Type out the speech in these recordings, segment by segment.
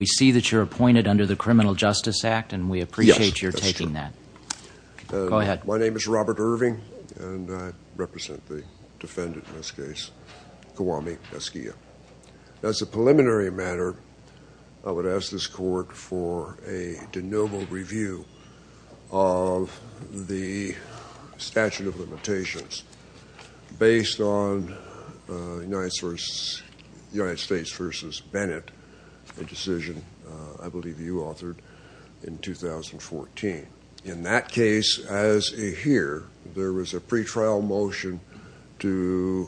We see that you're appointed under the Criminal Justice Act, and we appreciate your taking that. Go ahead. My name is Robert Irving, and I represent the defendant in this case, Kwame Askia. As a preliminary matter, I would ask this Court for a de novo review of the statute of limitations based on United States v. Bennett, a decision I believe you authored in 2014. In that case, as is here, there was a pretrial motion to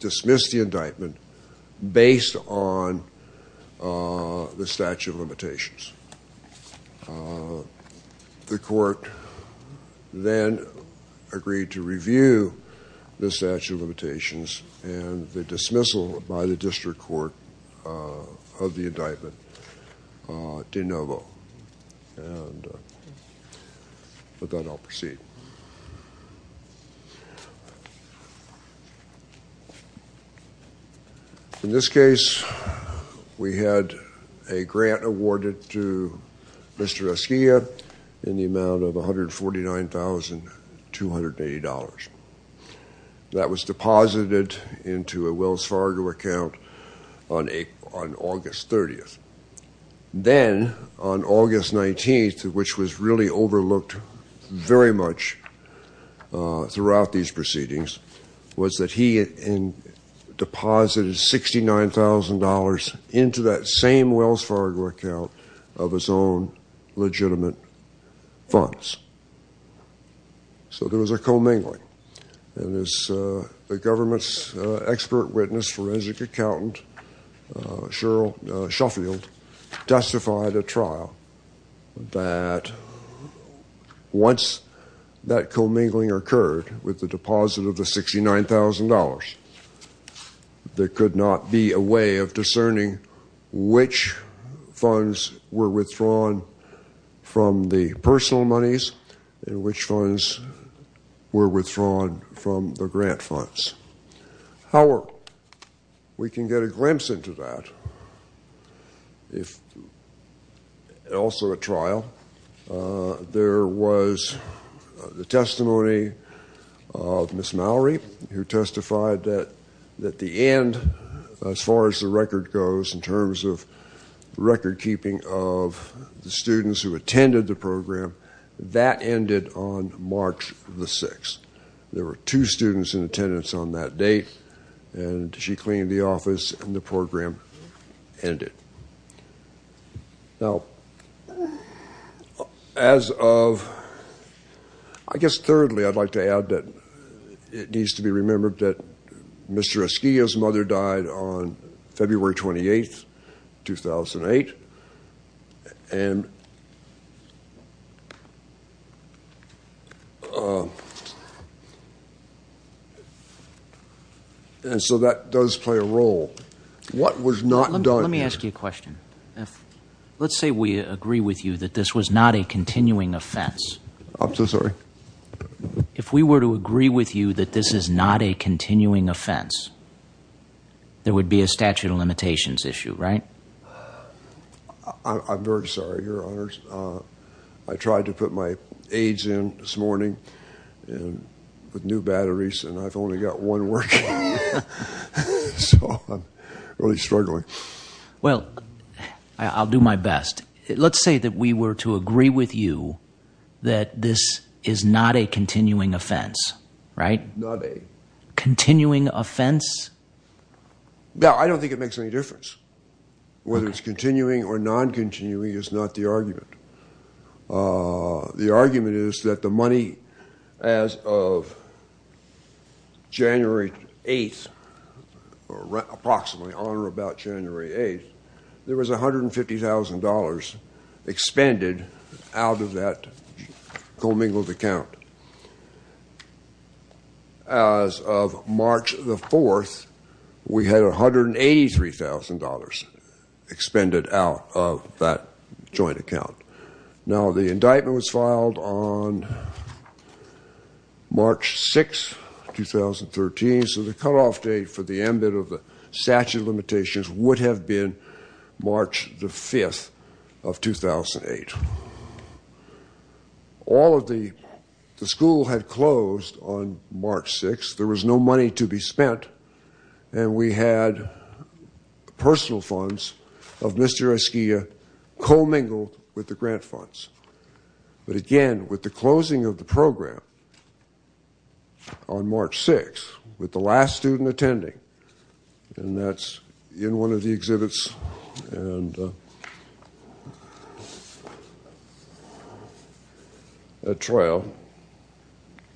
dismiss the indictment based on the statute of limitations. The Court then agreed to review the statute of limitations and the dismissal by the District Court of the indictment de novo. And with that, I'll proceed. In this case, we had a grant awarded to Mr. Askia in the amount of $149,280. That was deposited into a Wells Fargo account on August 30th. Then, on August 19th, which was really overlooked very much throughout these proceedings, was that he deposited $69,000 into that same Wells Fargo account of his own legitimate funds. So there was a commingling. And as the government's expert witness, forensic accountant Cheryl Shuffield, testified at trial that once that commingling occurred with the deposit of the $69,000, there could not be a way of discerning which funds were withdrawn from the personal monies and which funds were withdrawn from the grant funds. However, we can get a glimpse into that. Also at trial, there was the testimony of Ms. Mallory, who testified that at the end, as far as the record goes in terms of record keeping of the students who attended the program, that ended on March the 6th. There were two students in attendance on that date, and she cleaned the office, and the program ended. Now, as of, I guess thirdly, I'd like to add that it needs to be remembered that Mr. Askia's mother died on February 28th, 2008. And so that does play a role. What was not done? Let me ask you a question. Let's say we agree with you that this was not a continuing offense. I'm so sorry? If we were to agree with you that this is not a continuing offense, there would be a statute of limitations issue, right? I'm very sorry, Your Honors. I tried to put my aids in this morning with new batteries, and I've only got one working. So I'm really struggling. Well, I'll do my best. Let's say that we were to agree with you that this is not a continuing offense, right? Not a... Continuing offense? No, I don't think it makes any difference. Whether it's continuing or non-continuing is not the argument. The argument is that the money as of January 8th, or approximately on or about January 8th, there was $150,000 expended out of that commingled account. As of March 4th, we had $183,000 expended out of that joint account. Now, the indictment was filed on March 6th, 2013. So the cutoff date for the ambit of the statute of limitations would have been March 5th of 2008. All of the... The school had closed on March 6th. There was no money to be spent, and we had personal funds of Mr. Esquia commingled with the grant funds. But again, with the closing of the program on March 6th, with the last student attending, and that's in one of the exhibits, and that trail,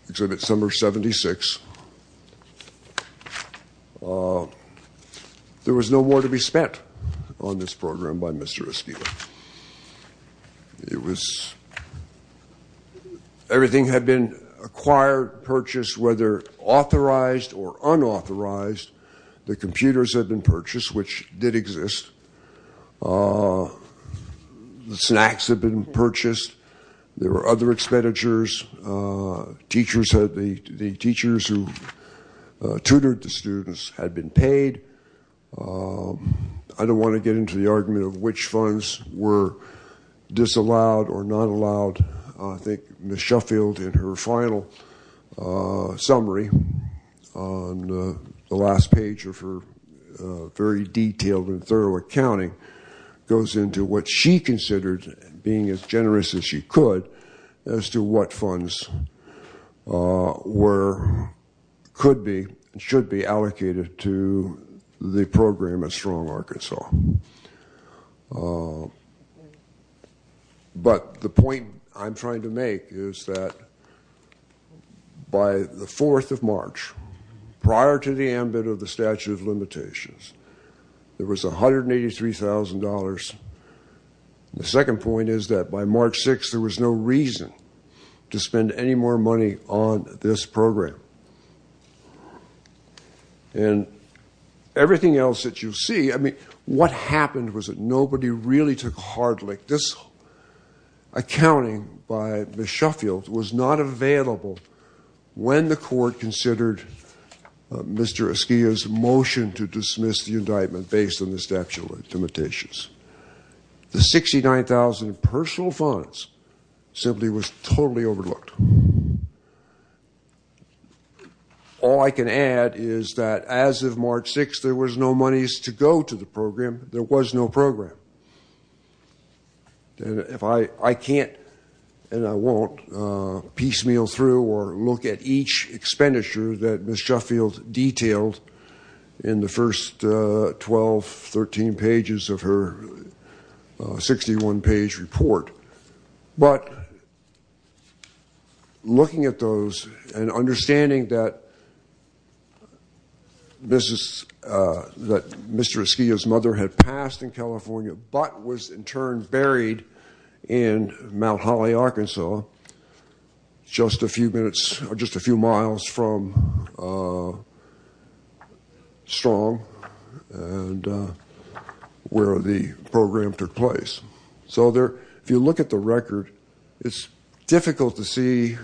exhibit number 76, there was no more to be spent on this program by Mr. Esquia. It was... Everything had been acquired, purchased, whether authorized or unauthorized. The computers had been purchased, which did exist. The snacks had been purchased. There were other expenditures. Teachers had... The teachers who tutored the students had been paid. I don't want to get into the argument of which funds were disallowed or not allowed. I think Ms. Shuffield, in her final summary on the last page of her very detailed and thorough accounting, goes into what she considered being as generous as she could as to what funds were... could be and should be allocated to the program at Strong Arkansas. But the point I'm trying to make is that by the 4th of March, prior to the ambit of the statute of limitations, there was $183,000. The second point is that by March 6th, there was no reason to spend any more money on this program. And everything else that you see... I mean, what happened was that nobody really took heart. Like this accounting by Ms. Shuffield was not available when the court considered Mr. Esquia's motion to dismiss the indictment based on the statute of limitations. The $69,000 in personal funds simply was totally overlooked. All I can add is that as of March 6th, there was no monies to go to the program. There was no program. I can't and I won't piecemeal through or look at each expenditure that Ms. Shuffield detailed in the first 12, 13 pages of her 61-page report. But looking at those and understanding that Mr. Esquia's mother had passed in California but was in turn buried in Mount Holly, Arkansas, just a few miles from Strong where the program took place. So if you look at the record, it's difficult to see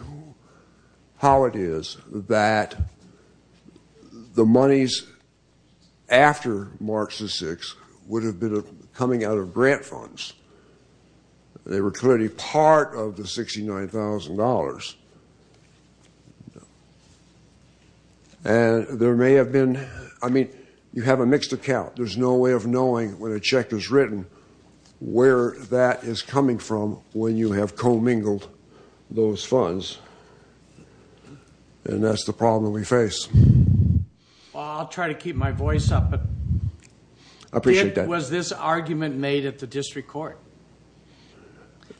how it is that the monies after March 6th would have been coming out of grant funds. They were clearly part of the $69,000. And there may have been... I mean, you have a mixed account. There's no way of knowing when a check is written where that is coming from when you have commingled those funds. And that's the problem we face. Well, I'll try to keep my voice up, but... I appreciate that. Was this argument made at the district court?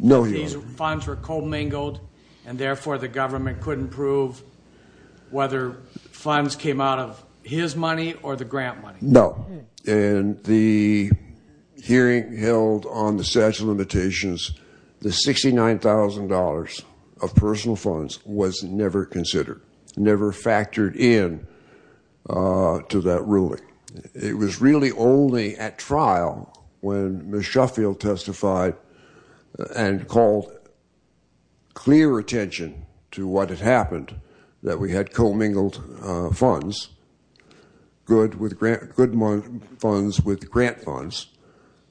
No, Your Honor. These funds were commingled and therefore the government couldn't prove whether funds came out of his money or the grant money? No. In the hearing held on the statute of limitations, the $69,000 of personal funds was never considered, never factored in to that ruling. It was really only at trial when Ms. Shuffield testified and called clear attention to what had happened, that we had commingled funds, good funds with grant funds,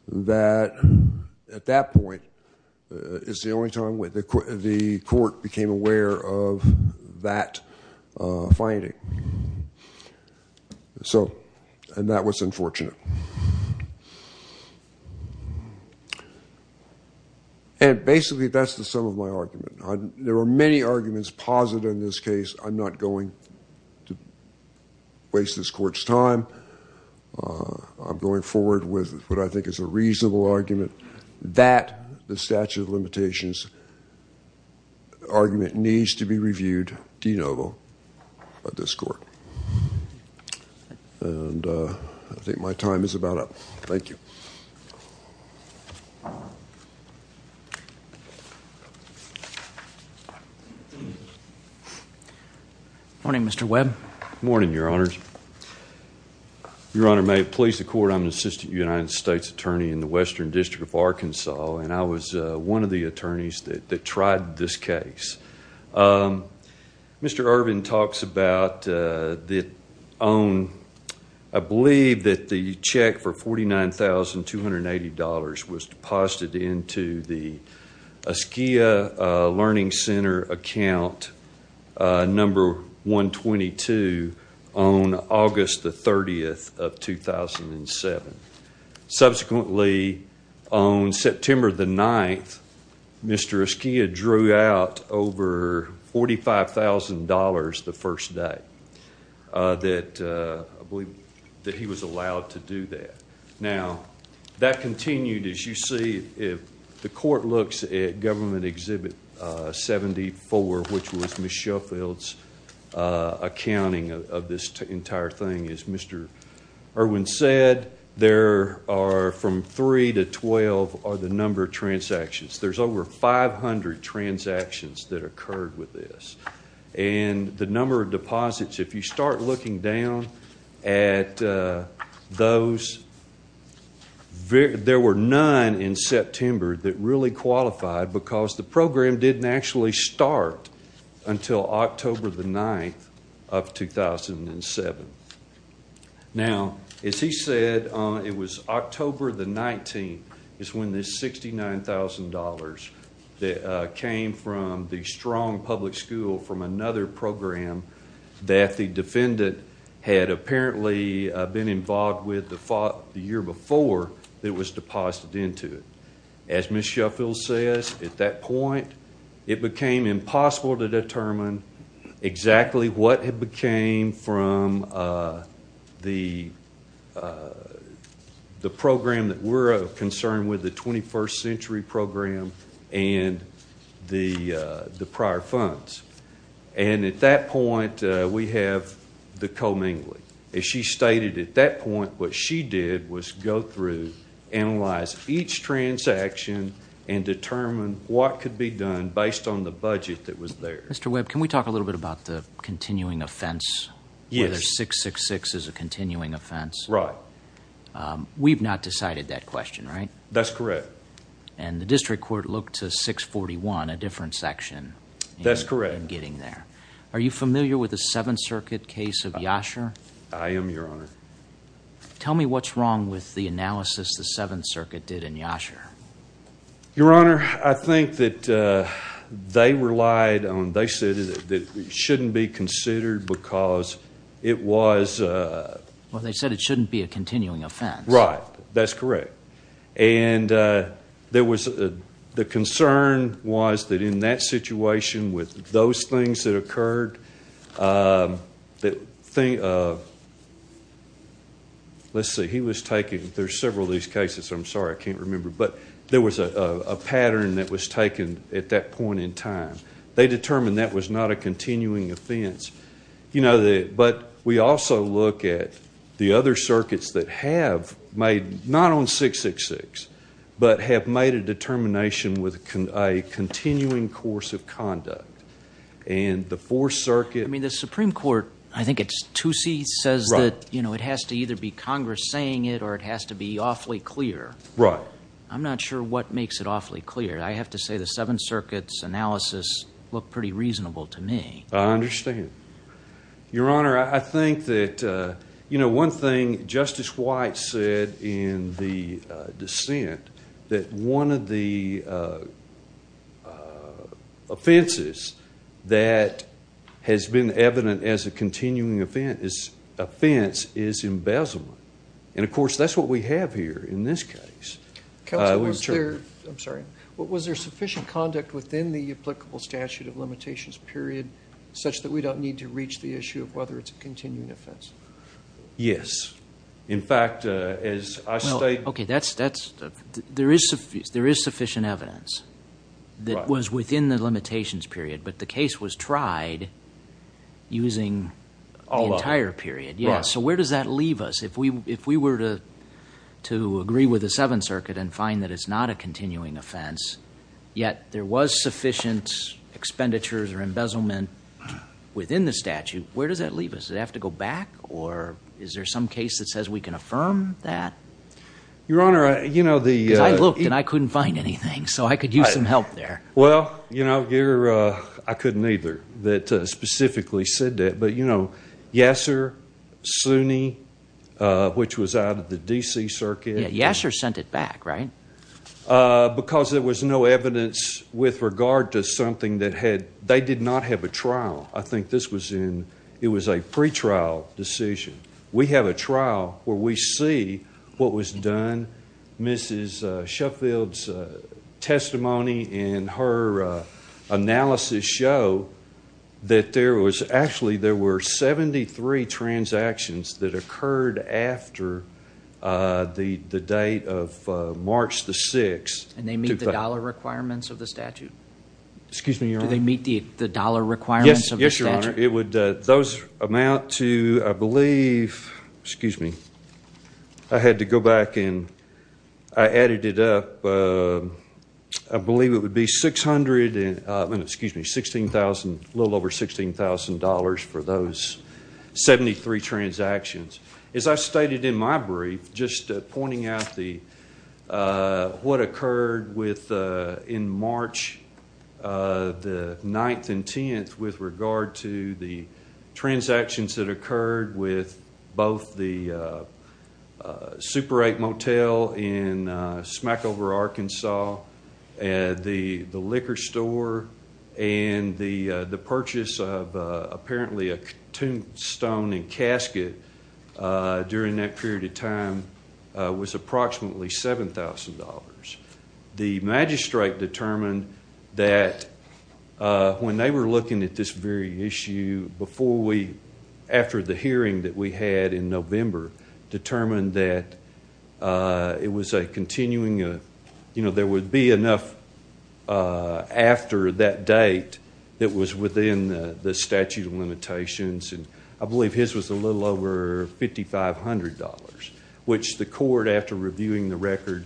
that at that point is the only time the court became aware of that finding. And that was unfortunate. And basically that's the sum of my argument. There are many arguments positive in this case. I'm not going to waste this court's time. I'm going forward with what I think is a reasonable argument, that the statute of limitations argument needs to be reviewed de novo by this court. And I think my time is about up. Thank you. Good morning, Mr. Webb. Good morning, Your Honor. Your Honor, may it please the court, I'm an assistant United States attorney in the Western District of Arkansas, and I was one of the attorneys that tried this case. Mr. Irvin talks about the own, I believe that the check for $49,280 was deposited into the Askia Learning Center account number 122 on August the 30th of 2007. Subsequently, on September the 9th, Mr. Askia drew out over $45,000 the first day that he was allowed to do that. Now, that continued. As you see, the court looks at Government Exhibit 74, which was Ms. Sheffield's accounting of this entire thing. As Mr. Irvin said, there are from 3 to 12 are the number of transactions. There's over 500 transactions that occurred with this. And the number of deposits, if you start looking down at those, there were none in September that really qualified because the program didn't actually start until October the 9th of 2007. Now, as he said, it was October the 19th is when this $69,000 came from the strong public school from another program that the defendant had apparently been involved with the year before it was deposited into it. As Ms. Sheffield says, at that point, it became impossible to determine exactly what had became from the program that we're concerned with, the 21st Century Program and the prior funds. And at that point, we have the commingling. As she stated, at that point, what she did was go through, analyze each transaction, and determine what could be done based on the budget that was there. Mr. Webb, can we talk a little bit about the continuing offense? Yes. Where there's 666 as a continuing offense. Right. We've not decided that question, right? That's correct. And the district court looked to 641, a different section. That's correct. In getting there. Are you familiar with the Seventh Circuit case of Yasher? I am, Your Honor. Tell me what's wrong with the analysis the Seventh Circuit did in Yasher. Your Honor, I think that they relied on, they said it shouldn't be considered because it was... Well, they said it shouldn't be a continuing offense. Right. That's correct. And there was, the concern was that in that situation, with those things that occurred, let's see, he was taking, there's several of these cases. I'm sorry, I can't remember. But there was a pattern that was taken at that point in time. They determined that was not a continuing offense. But we also look at the other circuits that have made, not on 666, but have made a determination with a continuing course of conduct. And the Fourth Circuit... I mean, the Supreme Court, I think it's 2C, says that it has to either be Congress saying it or it has to be awfully clear. Right. I'm not sure what makes it awfully clear. I have to say the Seventh Circuit's analysis looked pretty reasonable to me. I understand. Your Honor, I think that, you know, one thing Justice White said in the dissent, that one of the offenses that has been evident as a continuing offense is embezzlement. And, of course, that's what we have here in this case. Counsel, was there, I'm sorry, was there sufficient conduct within the applicable statute of limitations period such that we don't need to reach the issue of whether it's a continuing offense? Yes. In fact, as I state... Okay, there is sufficient evidence that was within the limitations period, but the case was tried using the entire period. Yes. So where does that leave us? If we were to agree with the Seventh Circuit and find that it's not a continuing offense, yet there was sufficient expenditures or embezzlement within the statute, where does that leave us? Does it have to go back, or is there some case that says we can affirm that? Your Honor, you know, the... Because I looked and I couldn't find anything, so I could use some help there. Well, you know, I couldn't either that specifically said that. But, you know, Yeser, Sunni, which was out of the D.C. Circuit. Yeser sent it back, right? Because there was no evidence with regard to something that had... They did not have a trial. I think this was in... It was a pretrial decision. We have a trial where we see what was done. Mrs. Sheffield's testimony and her analysis show that there was... There were 73 transactions that occurred after the date of March the 6th. And they meet the dollar requirements of the statute? Excuse me, Your Honor. Do they meet the dollar requirements of the statute? Yes, Your Honor. It would... Those amount to, I believe... Excuse me. I had to go back and I added it up. I believe it would be $16,000, a little over $16,000 for those 73 transactions. As I stated in my brief, just pointing out what occurred in March the 9th and 10th with regard to the transactions that occurred with both the Super 8 Motel in Smackover, Arkansas, the liquor store, and the purchase of apparently a tombstone and casket during that period of time was approximately $7,000. The magistrate determined that when they were looking at this very issue before we... After the hearing that we had in November, determined that it was a continuing... There would be enough after that date that was within the statute of limitations. I believe his was a little over $5,500, which the court, after reviewing the record,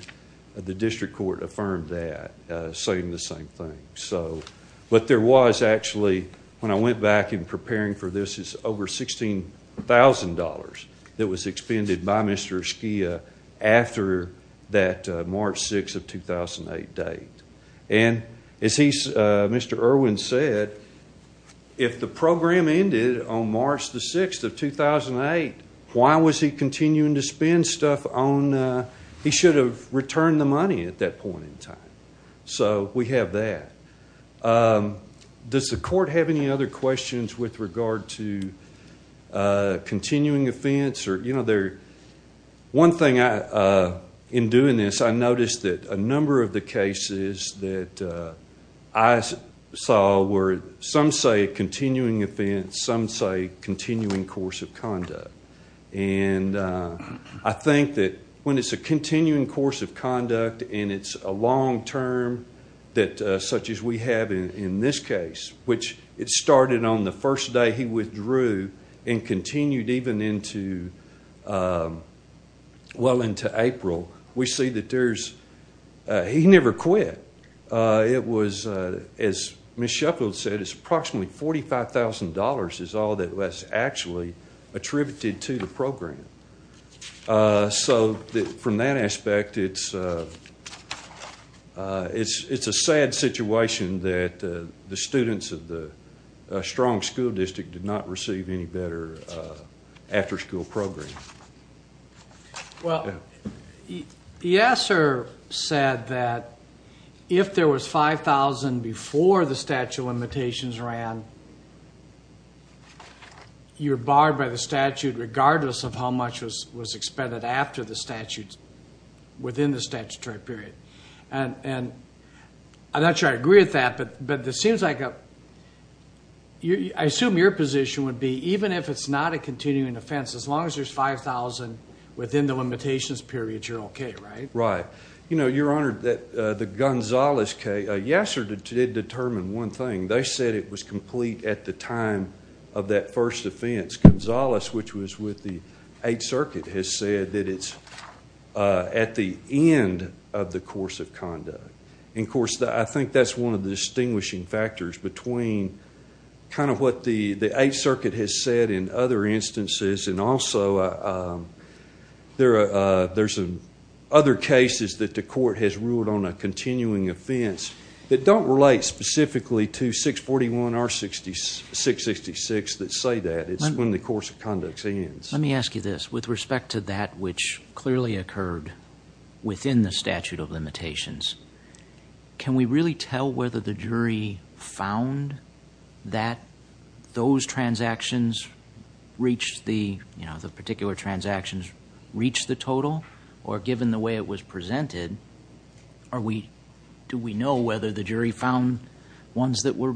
the district court affirmed that, saying the same thing. What there was actually, when I went back in preparing for this, is over $16,000 that was expended by Mr. Esquia after that March 6th of 2008 date. As Mr. Irwin said, if the program ended on March the 6th of 2008, why was he continuing to spend stuff on... He should have returned the money at that point in time. So we have that. Does the court have any other questions with regard to continuing offense? One thing in doing this, I noticed that a number of the cases that I saw were... And I think that when it's a continuing course of conduct and it's a long term such as we have in this case, which it started on the first day he withdrew and continued even into April, we see that there's... He never quit. It was, as Ms. Shepard said, it's approximately $45,000 is all that was actually attributed to the program. So from that aspect, it's a sad situation that the students of the strong school district did not receive any better after school program. Well, Yasser said that if there was $5,000 before the statute of limitations ran, you're barred by the statute regardless of how much was expended after the statute, within the statutory period. And I'm not sure I agree with that, but it seems like... I assume your position would be even if it's not a continuing offense, as long as there's $5,000 within the limitations period, you're okay, right? Right. Your Honor, the Gonzales case, Yasser did determine one thing. They said it was complete at the time of that first offense. Gonzales, which was with the Eighth Circuit, has said that it's at the end of the course of conduct. And, of course, I think that's one of the distinguishing factors between kind of what the Eighth Circuit has said in other instances, and also there's other cases that the court has ruled on a continuing offense that don't relate specifically to 641 or 666 that say that. It's when the course of conduct ends. Let me ask you this. With respect to that which clearly occurred within the statute of limitations, can we really tell whether the jury found that those transactions reached the, you know, the particular transactions reached the total? Or given the way it was presented, do we know whether the jury found ones that were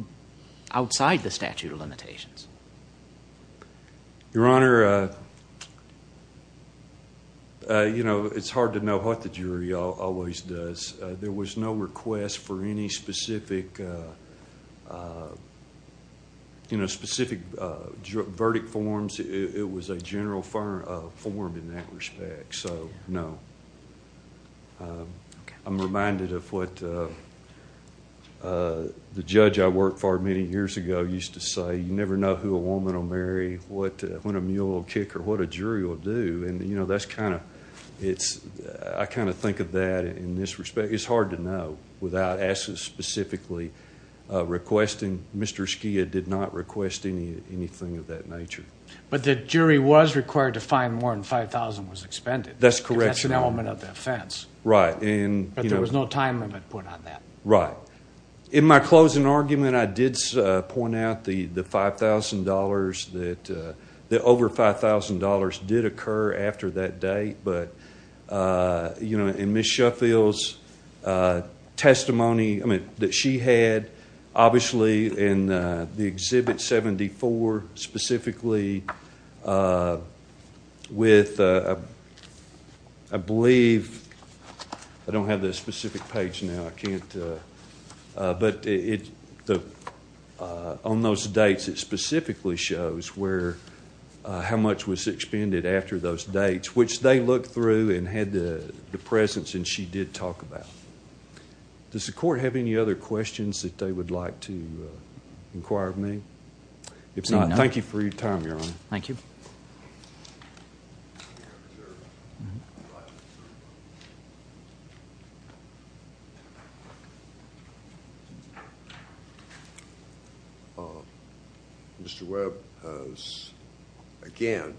outside the statute of limitations? Your Honor, you know, it's hard to know what the jury always does. There was no request for any specific, you know, specific verdict forms. It was a general form in that respect. So, no. I'm reminded of what the judge I worked for many years ago used to say, you never know who a woman will marry, when a mule will kick her, what a jury will do. And, you know, that's kind of... I kind of think of that in this respect. It's hard to know without asking specifically, requesting. Mr. Skia did not request anything of that nature. But the jury was required to find more than 5,000 was expended. That's correct, Your Honor. That's an element of the offense. Right. But there was no time limit put on that. Right. In my closing argument, I did point out the $5,000 that... that over $5,000 did occur after that date. But, you know, in Ms. Shuffield's testimony, I mean, that she had, obviously, in the Exhibit 74, specifically, with... I believe... I don't have the specific page now. I can't... But on those dates, it specifically shows how much was expended after those dates, which they looked through and had the presence, and she did talk about. Does the Court have any other questions that they would like to inquire of me? If not, thank you for your time, Your Honor. Thank you. Thank you. Mr. Webb has, again,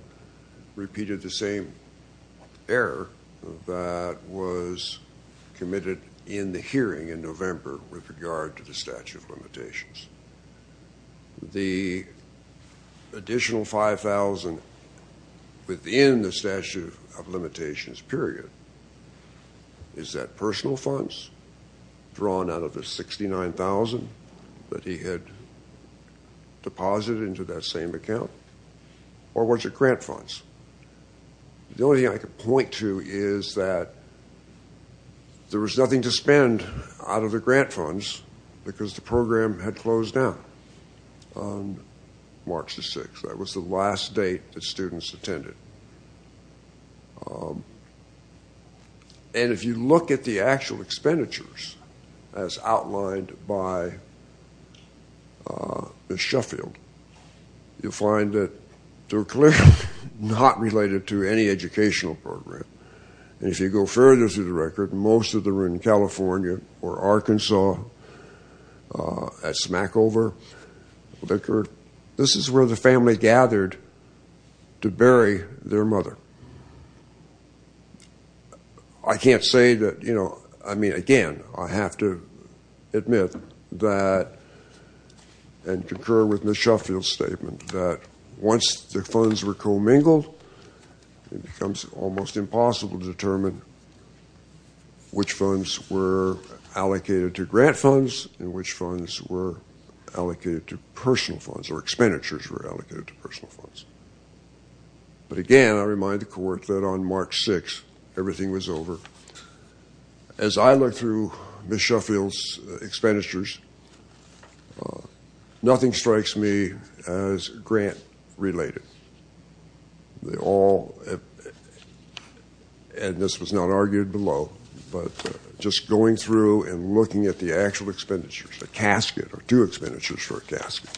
repeated the same error that was committed in the hearing in November with regard to the statute of limitations. The additional $5,000 within the statute of limitations period, is that personal funds drawn out of the $69,000 that he had deposited into that same account? Or was it grant funds? The only thing I could point to is that there was nothing to spend out of the grant funds because the program had closed down on March the 6th. That was the last date that students attended. And if you look at the actual expenditures, as outlined by Ms. Sheffield, you'll find that they're clearly not related to any educational program. And if you go further through the record, most of them were in California or Arkansas, at smack over, liquor. This is where the family gathered to bury their mother. I can't say that, you know, I mean, again, I have to admit that, and concur with Ms. Sheffield's statement, that once the funds were commingled, it becomes almost impossible to determine which funds were allocated to grant funds and which funds were allocated to personal funds or expenditures were allocated to personal funds. But again, I remind the court that on March 6th, everything was over. As I look through Ms. Sheffield's expenditures, nothing strikes me as grant related. They all, and this was not argued below, but just going through and looking at the actual expenditures, a casket or two expenditures for a casket,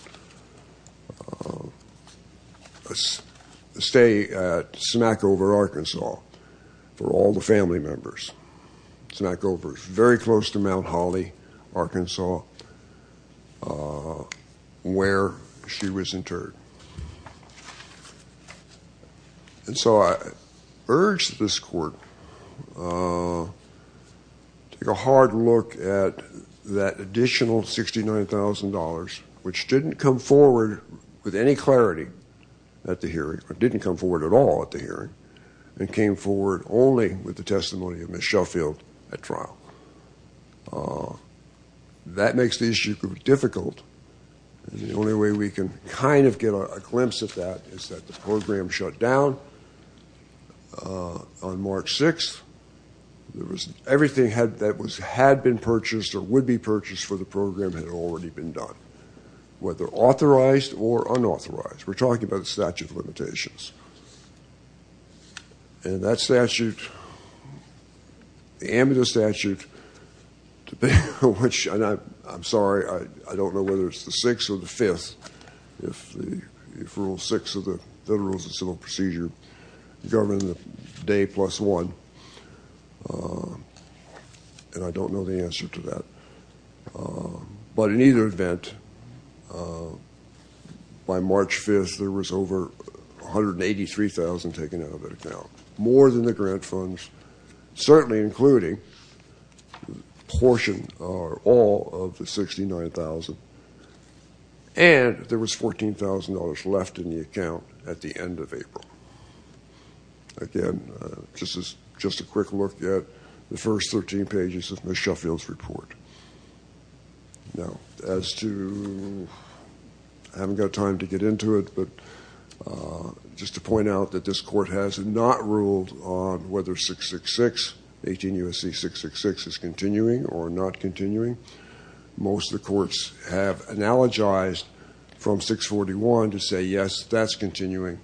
a stay at smack over Arkansas for all the family members. Smack over is very close to Mount Holly, Arkansas, where she was interred. And so I urge this court to take a hard look at that additional $69,000, which didn't come forward with any clarity at the hearing, or didn't come forward at all at the hearing, and came forward only with the testimony of Ms. Sheffield at trial. That makes the issue difficult. The only way we can kind of get a glimpse of that is that the program shut down on March 6th. Everything that had been purchased or would be purchased for the program had already been done, whether authorized or unauthorized. We're talking about the statute of limitations. And that statute, the amicus statute, which I'm sorry, I don't know whether it's the 6th or the 5th, if Rule 6 of the Federal Rules of Civil Procedure govern the day plus one, and I don't know the answer to that. But in either event, by March 5th, there was over $183,000 taken out of that account, more than the grant funds, certainly including a portion or all of the $69,000. And there was $14,000 left in the account at the end of April. Again, just a quick look at the first 13 pages of Ms. Sheffield's report. Now, as to, I haven't got time to get into it, but just to point out that this Court has not ruled on whether 666, 18 U.S.C. 666, is continuing or not continuing. Most of the courts have analogized from 641 to say, yes, that's continuing.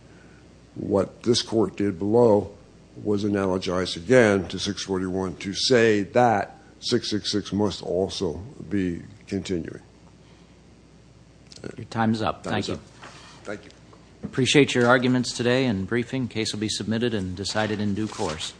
What this Court did below was analogize again to 641 to say that 666 must also be continuing. Your time's up. Thank you. Time's up. Thank you. Appreciate your arguments today and briefing. Case will be submitted and decided in due course.